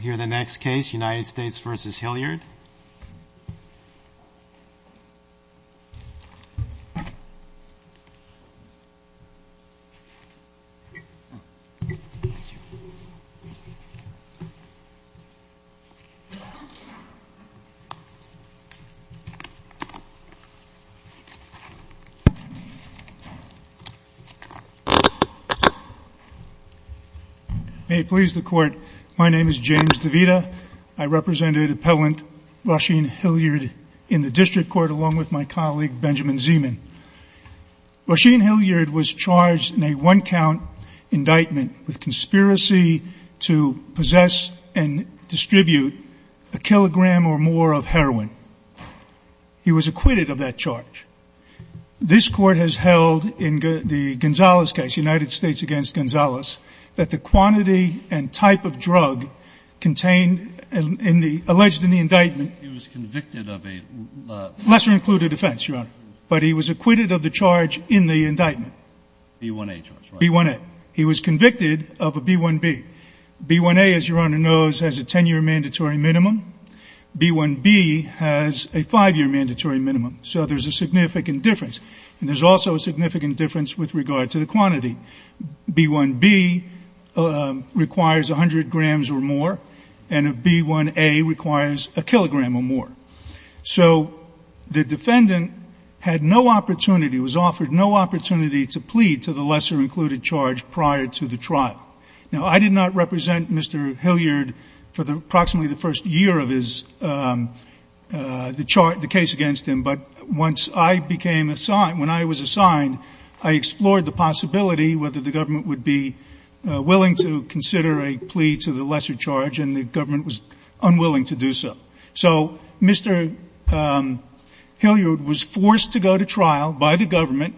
Here's the next case, United States v. Hilliard. May it please the court, my name is James DeVita. I represented appellant Roisin Hilliard in the district court along with my colleague Benjamin Zeman. Roisin Hilliard was charged in a one count indictment with conspiracy to possess and distribute a kilogram or more of heroin. He was acquitted of that charge. This court has held in the Gonzalez case, United States v. Gonzalez, that the quantity and type of drug contained in the alleged indictment... He was convicted of a... Lesser included offense, Your Honor. But he was acquitted of the charge in the indictment. B1A charge, right? B1A. He was convicted of a B1B. B1A, as Your Honor knows, has a 10 year mandatory minimum. B1B has a 5 year mandatory minimum. So there's a significant difference. And there's also a significant difference with regard to the quantity. B1B requires 100 grams or more. And B1A requires a kilogram or more. So the defendant had no opportunity, was offered no opportunity to plead to the lesser included charge prior to the trial. Now, I did not represent Mr. Hilliard for approximately the first year of the case against him. But once I became assigned, when I was assigned, I explored the possibility whether the government would be willing to consider a plea to the lesser charge. And the government was unwilling to do so. So Mr. Hilliard was forced to go to trial by the government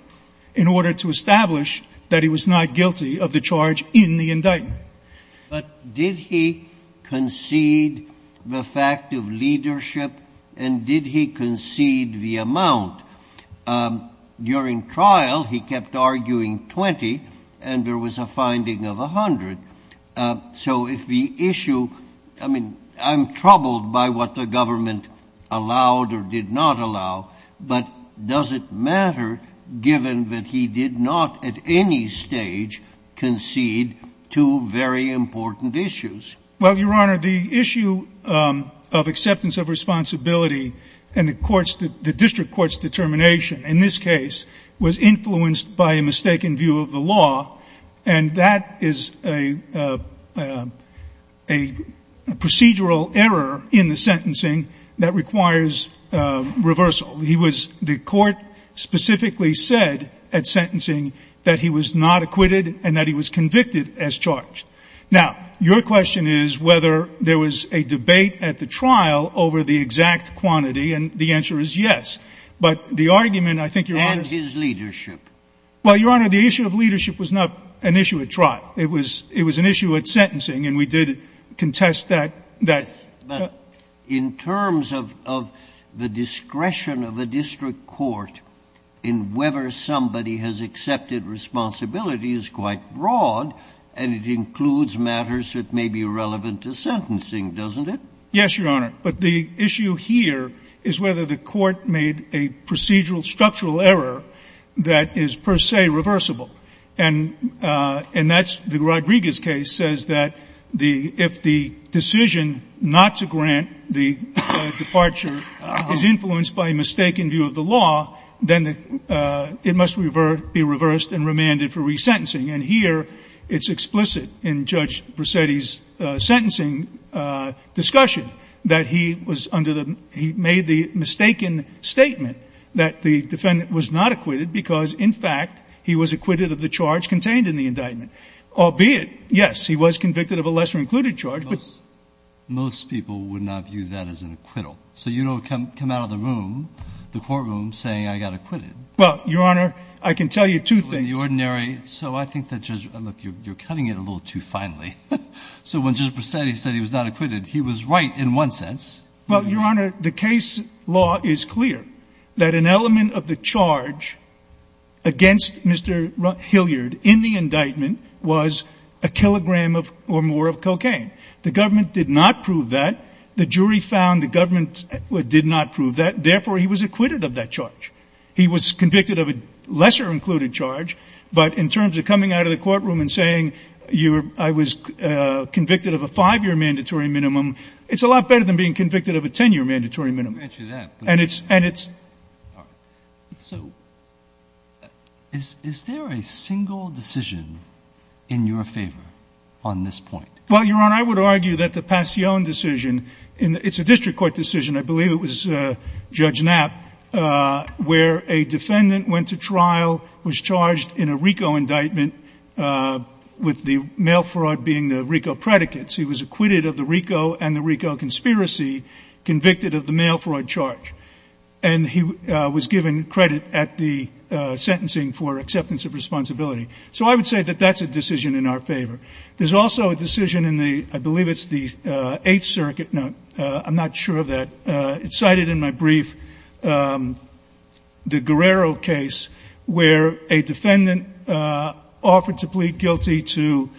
in order to establish that he was not guilty of the charge in the indictment. But did he concede the fact of leadership? And did he concede the amount? During trial, he kept arguing 20, and there was a finding of 100. So if the issue, I mean, I'm troubled by what the government allowed or did not allow. But does it matter, given that he did not at any stage concede two very important issues? Well, Your Honor, the issue of acceptance of responsibility and the district court's determination in this case was influenced by a mistaken view of the law. And that is a procedural error in the sentencing that requires reversal. The court specifically said at sentencing that he was not acquitted and that he was convicted as charged. Now, your question is whether there was a debate at the trial over the exact quantity, and the answer is yes. But the argument, I think, Your Honor — And his leadership. Well, Your Honor, the issue of leadership was not an issue at trial. It was an issue at sentencing, and we did contest that. But in terms of the discretion of a district court in whether somebody has accepted responsibility is quite broad, and it includes matters that may be relevant to sentencing, doesn't it? Yes, Your Honor. But the issue here is whether the court made a procedural structural error that is per se reversible. And that's the Rodriguez case says that if the decision not to grant the departure is influenced by a mistaken view of the law, then it must be reversed and remanded for resentencing. And here it's explicit in Judge Bracetti's sentencing discussion that he was under the — he made the mistaken statement that the defendant was not acquitted because, in fact, he was acquitted of the charge contained in the indictment. Albeit, yes, he was convicted of a lesser-included charge, but — Most people would not view that as an acquittal. So you don't come out of the room, the courtroom, saying I got acquitted. Well, Your Honor, I can tell you two things. The ordinary — so I think that Judge — look, you're cutting it a little too finely. So when Judge Bracetti said he was not acquitted, he was right in one sense. Well, Your Honor, the case law is clear that an element of the charge against Mr. Hilliard in the indictment was a kilogram or more of cocaine. The government did not prove that. The jury found the government did not prove that. Therefore, he was acquitted of that charge. He was convicted of a lesser-included charge. But in terms of coming out of the courtroom and saying you were — I was convicted of a five-year mandatory minimum, it's a lot better than being convicted of a ten-year mandatory minimum. Let me answer that. And it's — and it's — All right. So is there a single decision in your favor on this point? Well, Your Honor, I would argue that the Passione decision — it's a district court decision, I believe it was Judge Knapp, where a defendant went to trial, was charged in a RICO indictment with the mail fraud being the RICO predicates. He was acquitted of the RICO and the RICO conspiracy, convicted of the mail fraud charge. And he was given credit at the sentencing for acceptance of responsibility. So I would say that that's a decision in our favor. There's also a decision in the — I believe it's the Eighth Circuit — no, I'm not sure of that. It's cited in my brief, the Guerrero case, where a defendant offered to plead guilty to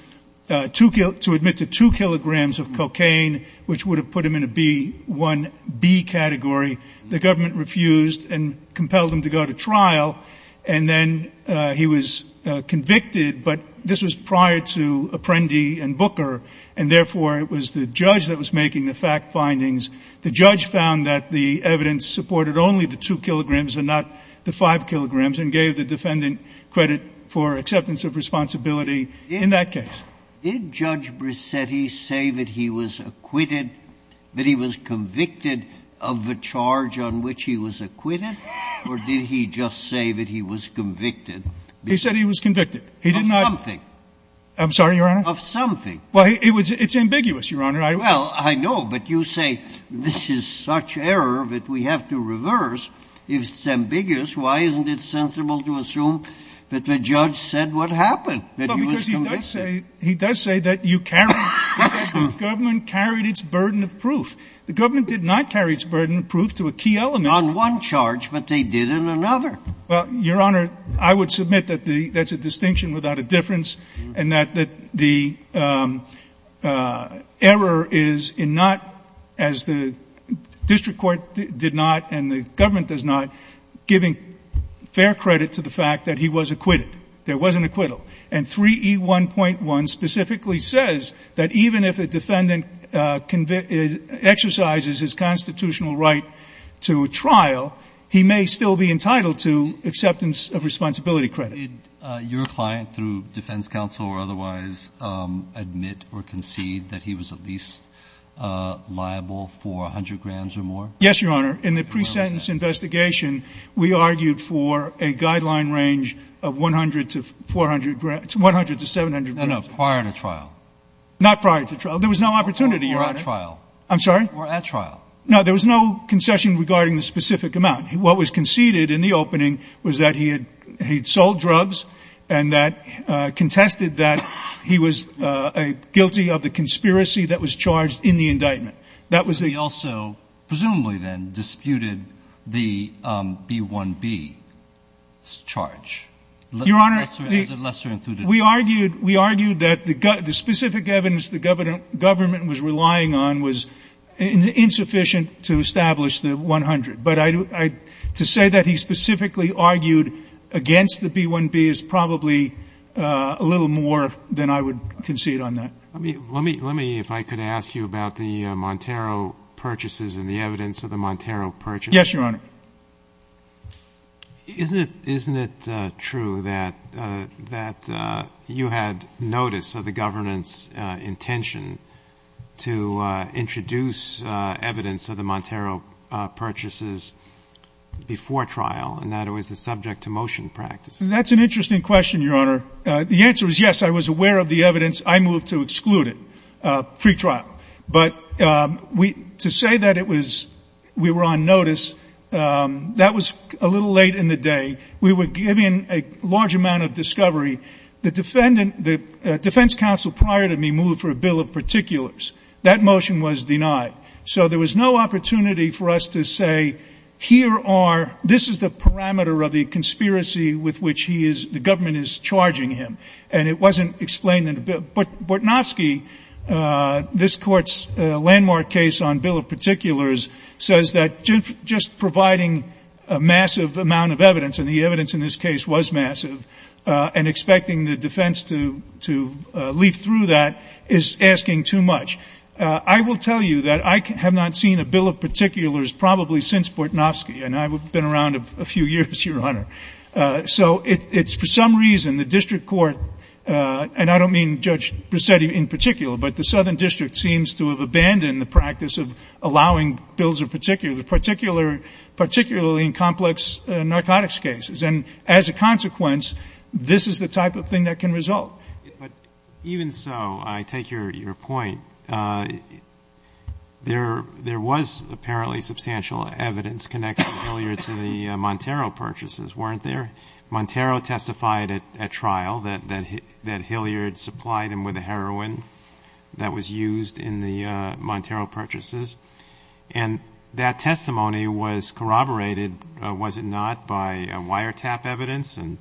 two — to admit to two kilograms of cocaine, which would have put him in a B — one B category. The government refused and compelled him to go to trial. And then he was convicted, but this was prior to Apprendi and Booker, and therefore it was the judge that was making the fact findings. The judge found that the evidence supported only the two kilograms and not the five kilograms, and gave the defendant credit for acceptance of responsibility in that case. Did Judge Brissetti say that he was acquitted, that he was convicted of the charge on which he was acquitted, or did he just say that he was convicted? He said he was convicted. He did not — Of something. I'm sorry, Your Honor? Of something. Well, it was — it's ambiguous, Your Honor. Well, I know, but you say this is such error that we have to reverse. If it's ambiguous, why isn't it sensible to assume that the judge said what happened, that he was convicted? Well, because he does say — he does say that you carried — he said the government carried its burden of proof. The government did not carry its burden of proof to a key element. On one charge, but they did in another. Well, Your Honor, I would submit that the — that's a distinction without a difference and that the error is in not, as the district court did not and the government does not, giving fair credit to the fact that he was acquitted. There was an acquittal. And 3E1.1 specifically says that even if a defendant exercises his constitutional right to trial, he may still be entitled to acceptance of responsibility credit. Did your client, through defense counsel or otherwise, admit or concede that he was at least liable for 100 grams or more? Yes, Your Honor. In the pre-sentence investigation, we argued for a guideline range of 100 to 400 grams — 100 to 700 grams. No, no, prior to trial. Not prior to trial. There was no opportunity, Your Honor. Or at trial. I'm sorry? Or at trial. No, there was no concession regarding the specific amount. What was conceded in the opening was that he had — he had sold drugs and that contested that he was guilty of the conspiracy that was charged in the indictment. That was the — But he also, presumably then, disputed the B-1B charge. Your Honor — As a lesser-included — We argued — we argued that the specific evidence the government was relying on was insufficient to establish the 100. But I — to say that he specifically argued against the B-1B is probably a little more than I would concede on that. Let me — let me — if I could ask you about the Montero purchases and the evidence of the Montero purchases. Yes, Your Honor. Isn't it — isn't it true that — that you had notice of the government's intention to introduce evidence of the Montero purchases before trial and that it was the subject to motion practice? That's an interesting question, Your Honor. The answer is yes, I was aware of the evidence. I moved to exclude it pre-trial. But we — to say that it was — we were on notice, that was a little late in the day. We were given a large amount of discovery. The defendant — the defense counsel prior to me moved for a bill of particulars. That motion was denied. So there was no opportunity for us to say, here are — this is the parameter of the conspiracy with which he is — the government is charging him. And it wasn't explained in the bill. But Bortnowski, this Court's landmark case on bill of particulars, says that just providing a massive amount of evidence, and the evidence in this case was massive, and expecting the defense to — to leaf through that is asking too much. I will tell you that I have not seen a bill of particulars probably since Bortnowski. And I've been around a few years, Your Honor. So it's — for some reason, the district court — and I don't mean Judge Brisetti in particular, but the Southern District seems to have abandoned the practice of allowing bills of particulars. Particular — particularly in complex narcotics cases. And as a consequence, this is the type of thing that can result. But even so, I take your — your point. There — there was apparently substantial evidence connecting Hilliard to the Montero purchases, weren't there? Montero testified at trial that — that Hilliard supplied him with the heroin that was used in the Montero purchases. And that testimony was corroborated, was it not, by wiretap evidence and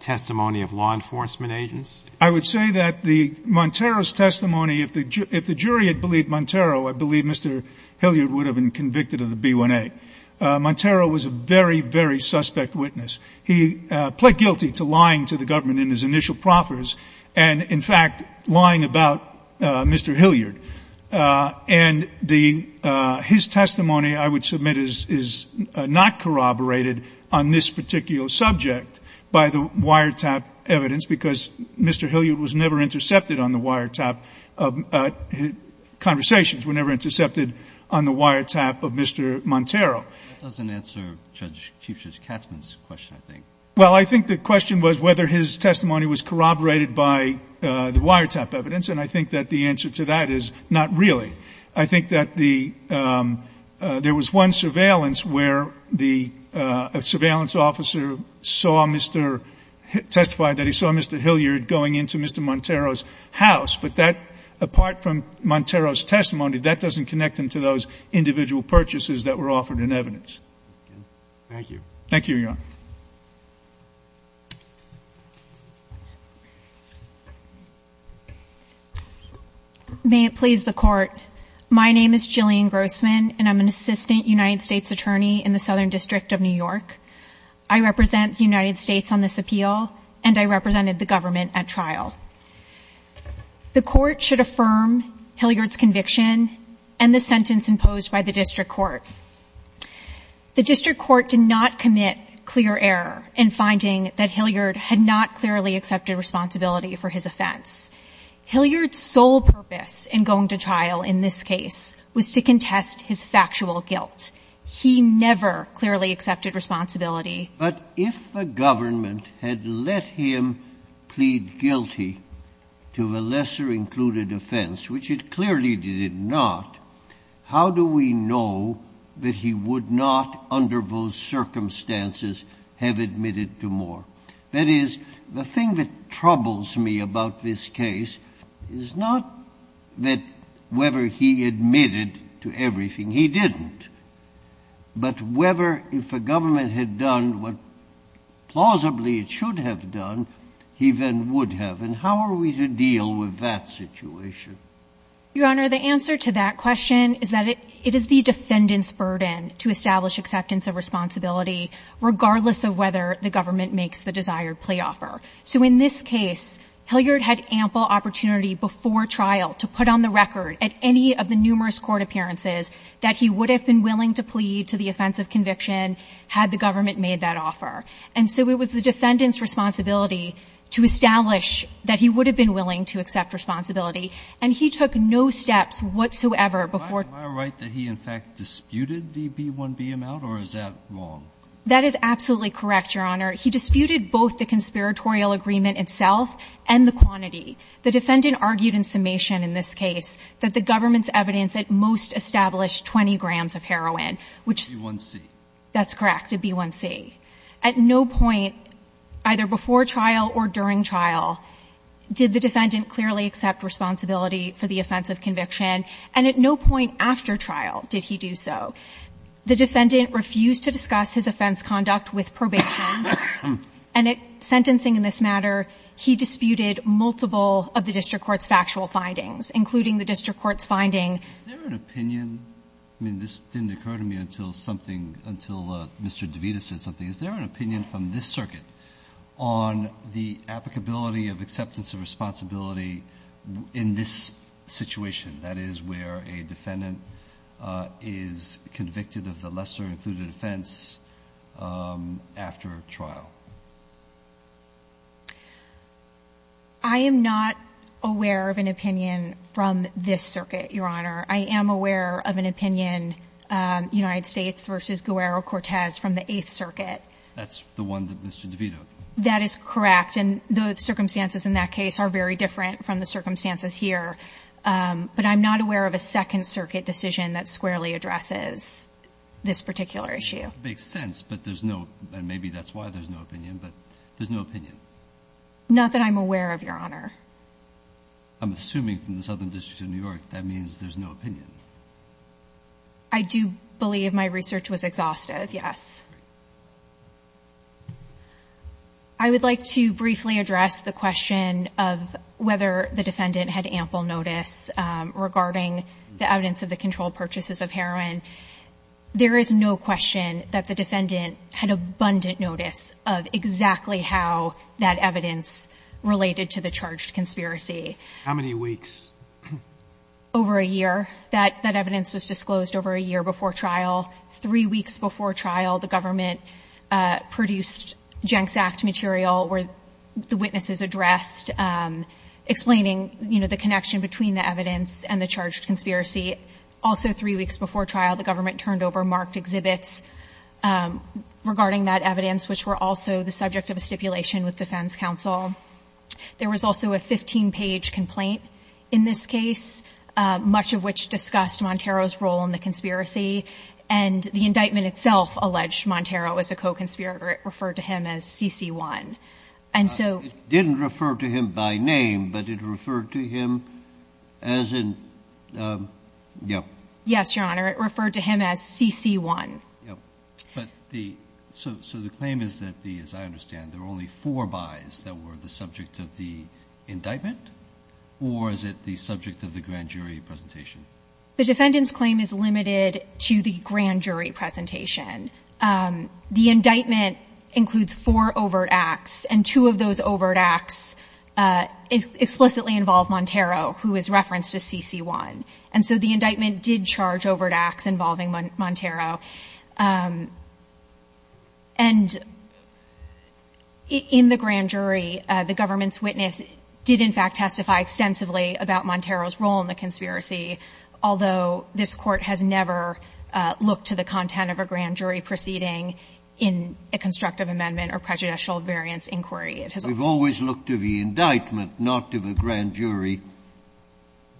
testimony of law enforcement agents? I would say that the — Montero's testimony — if the jury had believed Montero, I believe Mr. Hilliard would have been convicted of the B1A. Montero was a very, very suspect witness. He pled guilty to lying to the government in his initial proffers, and in fact, lying about Mr. Hilliard. And the — his testimony, I would submit, is — is not corroborated on this particular subject by the wiretap evidence because Mr. Hilliard was never intercepted on the wiretap of — conversations were never intercepted on the wiretap of Mr. Montero. That doesn't answer Judge — Chief Judge Katzman's question, I think. Well, I think the question was whether his testimony was corroborated by the wiretap evidence. And I think that the answer to that is not really. I think that the — there was one surveillance where the surveillance officer saw Mr. — testified that he saw Mr. Hilliard going into Mr. Montero's house. But that, apart from Montero's testimony, that doesn't connect him to those individual purchases that were offered in evidence. Thank you. Thank you, Your Honor. May it please the Court, my name is Jillian Grossman, and I'm an assistant United States attorney in the Southern District of New York. I represent the United States on this appeal, and I represented the government at trial. The Court should affirm Hilliard's conviction and the sentence imposed by the district court. The district court did not commit clear error in finding that Hilliard had not clearly accepted responsibility for his offense. Hilliard's sole purpose in going to trial in this case was to contest his factual guilt. He never clearly accepted responsibility. But if the government had let him plead guilty to the lesser-included offense, which it clearly did not, how do we know that he would not, under those circumstances, have admitted to more? That is, the thing that troubles me about this case is not that whether he admitted to everything. He didn't. But whether, if the government had done what, plausibly, it should have done, he then would have. And how are we to deal with that situation? Your Honor, the answer to that question is that it is the defendant's burden to make the desired plea offer. So in this case, Hilliard had ample opportunity before trial to put on the record at any of the numerous court appearances that he would have been willing to plead to the offense of conviction had the government made that offer. And so it was the defendant's responsibility to establish that he would have been willing to accept responsibility. And he took no steps whatsoever before the court. Am I right that he, in fact, disputed the B-1B amount, or is that wrong? That is absolutely correct, Your Honor. He disputed both the conspiratorial agreement itself and the quantity. The defendant argued in summation in this case that the government's evidence at most established 20 grams of heroin, which the B-1C. That's correct, the B-1C. At no point, either before trial or during trial, did the defendant clearly accept responsibility for the offense of conviction. And at no point after trial did he do so. The defendant refused to discuss his offense conduct with probation. And at sentencing in this matter, he disputed multiple of the district court's factual findings, including the district court's finding. Is there an opinion? I mean, this didn't occur to me until something, until Mr. DeVita said something. Is there an opinion from this circuit on the applicability of acceptance of responsibility in this situation? That is, where a defendant is convicted of the lesser included offense after trial. I am not aware of an opinion from this circuit, Your Honor. I am aware of an opinion, United States v. Guerrero-Cortez, from the Eighth Circuit. That's the one that Mr. DeVita. That is correct. And the circumstances in that case are very different from the circumstances here. But I'm not aware of a Second Circuit decision that squarely addresses this particular issue. It makes sense, but there's no, and maybe that's why there's no opinion, but there's no opinion. Not that I'm aware of, Your Honor. I'm assuming from the Southern District of New York, that means there's no opinion. I do believe my research was exhaustive, yes. I would like to briefly address the question of whether the defendant had ample notice regarding the evidence of the controlled purchases of heroin. There is no question that the defendant had abundant notice of exactly how that evidence related to the charged conspiracy. How many weeks? Over a year. That evidence was disclosed over a year before trial. Three weeks before trial, the government produced Jenks Act material where the witnesses addressed, explaining, you know, the connection between the evidence and the charged conspiracy. Also, three weeks before trial, the government turned over marked exhibits regarding that evidence, which were also the subject of a stipulation with defense counsel. There was also a 15-page complaint in this case, much of which discussed Montero's role in the conspiracy, and the indictment itself alleged Montero was a co-conspirator. It referred to him as CC1. It didn't refer to him by name, but it referred to him as in, yeah. Yes, Your Honor. It referred to him as CC1. So the claim is that, as I understand, there were only four buys that were the subject of the indictment, or is it the subject of the grand jury presentation? The defendant's claim is limited to the grand jury presentation. The indictment includes four overt acts, and two of those overt acts explicitly involve Montero, who is referenced as CC1. And so the indictment did charge overt acts involving Montero. And in the grand jury, the government's witness did, in fact, testify extensively about Montero's role in the conspiracy, although this court has never looked to the content of a grand jury proceeding in a constructive amendment or prejudicial variance inquiry. It has always looked to the indictment, not to the grand jury.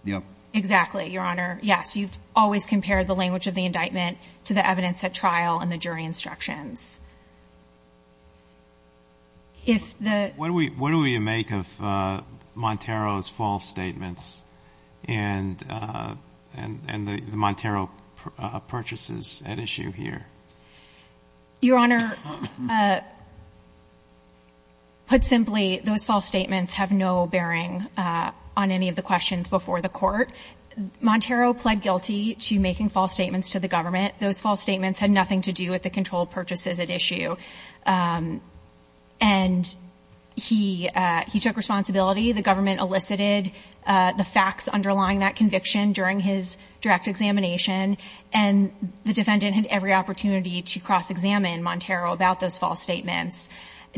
Yeah. Exactly, Your Honor. Yes, you've always compared the language of the indictment to the evidence at trial and the jury instructions. What do we make of Montero's false statements and the Montero purchases at issue here? Your Honor, put simply, those false statements have no bearing on any of the questions before the court. Montero pled guilty to making false statements to the government. Those false statements had nothing to do with the controlled purchases at issue. And he took responsibility. The government elicited the facts underlying that conviction during his direct examination, and the defendant had every opportunity to cross-examine Montero about those false statements.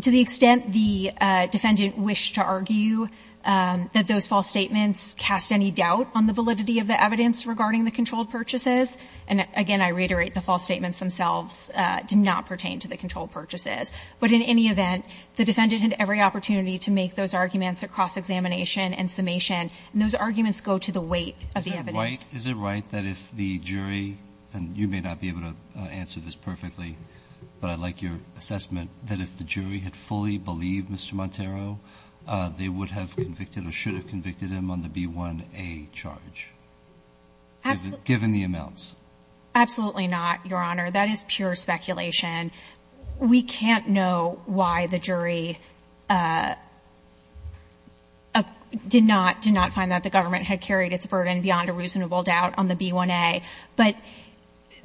To the extent the defendant wished to argue that those false statements cast any doubt on the validity of the evidence regarding the controlled purchases, and again, I reiterate, the false statements themselves did not pertain to the controlled purchases. But in any event, the defendant had every opportunity to make those arguments at cross-examination and summation. And those arguments go to the weight of the evidence. Is it right that if the jury, and you may not be able to answer this perfectly, but I'd like your assessment, that if the jury had fully believed Mr. Montero, they would have convicted or should have convicted him on the B1A charge? Absolutely. Given the amounts. Absolutely not, Your Honor. That is pure speculation. We can't know why the jury did not find that the government had carried its burden beyond a reasonable doubt on the B1A. But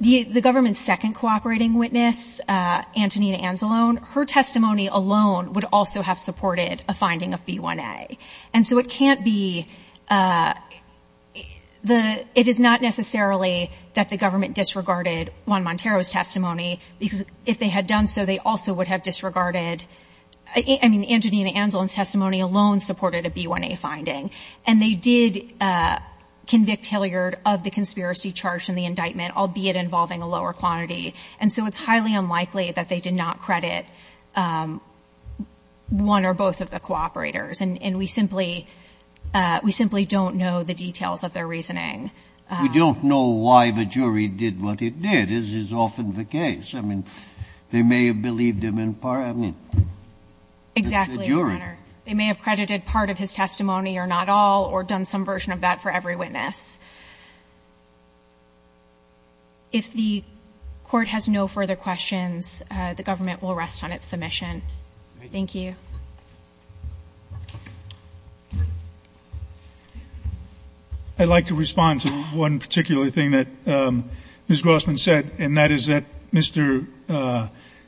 the government's second cooperating witness, Antonina Anzalone, her testimony alone would also have supported a finding of B1A. And so it can't be the – it is not necessarily that the government disregarded Juan Montero's testimony, because if they had done so, they also would have disregarded – I mean, Antonina Anzalone's testimony alone supported a B1A finding. And they did convict Hilliard of the conspiracy charge in the indictment, albeit involving a lower quantity. And so it's highly unlikely that they did not credit one or both of the cooperators. And we simply – we simply don't know the details of their reasoning. We don't know why the jury did what it did, as is often the case. I mean, they may have believed him in part. I mean, the jury. Exactly, Your Honor. They may have credited part of his testimony or not all or done some version of that for every witness. If the Court has no further questions, the government will rest on its submission. Thank you. Thank you. I'd like to respond to one particular thing that Ms. Grossman said, and that is that Mr.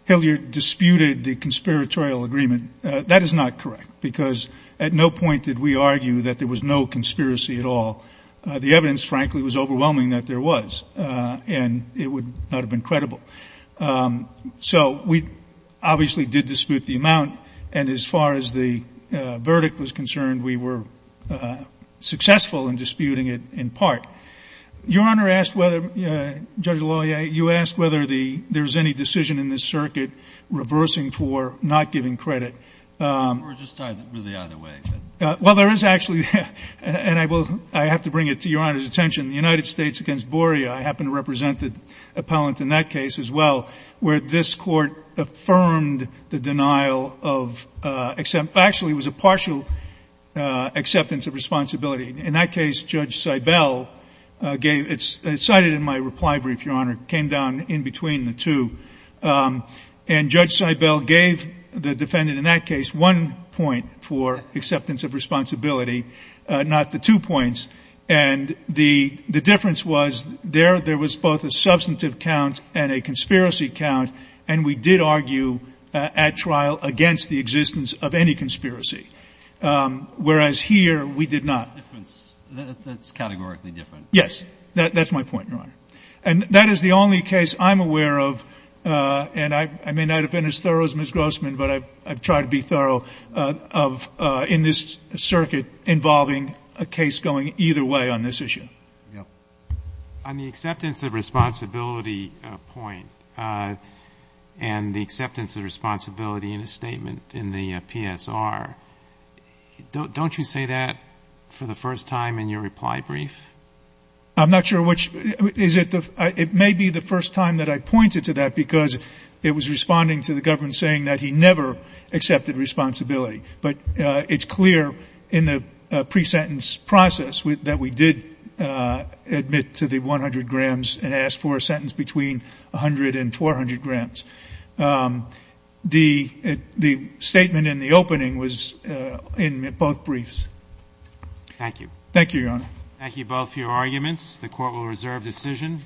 Hilliard disputed the conspiratorial agreement. That is not correct, because at no point did we argue that there was no conspiracy at all. The evidence, frankly, was overwhelming that there was, and it would not have been credible. So we obviously did dispute the amount. And as far as the verdict was concerned, we were successful in disputing it in part. Your Honor asked whether – Judge Loyer, you asked whether there is any decision in this circuit reversing for not giving credit. We're just tied really either way. Well, there is actually – and I will – I have to bring it to Your Honor's attention. The United States against Borea, I happen to represent the appellant in that case as well, where this Court affirmed the denial of – actually, it was a partial acceptance of responsibility. In that case, Judge Seibel gave – it's cited in my reply brief, Your Honor, came down in between the two. And Judge Seibel gave the defendant in that case one point for acceptance of responsibility, not the two points. And the difference was there was both a substantive count and a conspiracy count, and we did argue at trial against the existence of any conspiracy, whereas here we did not. That's categorically different. That's my point, Your Honor. And that is the only case I'm aware of – and I may not have been as thorough as Ms. Grossman, but I've tried to be thorough – in this circuit involving a case going either way on this issue. Yeah. On the acceptance of responsibility point and the acceptance of responsibility in a statement in the PSR, don't you say that for the first time in your reply brief? I'm not sure which – is it the – it may be the first time that I pointed to that because it was responding to the government saying that he never accepted responsibility. But it's clear in the pre-sentence process that we did admit to the 100 grams and asked for a sentence between 100 and 400 grams. The statement in the opening was in both briefs. Thank you. Thank you, Your Honor. Thank you both for your arguments. The Court will reserve decision.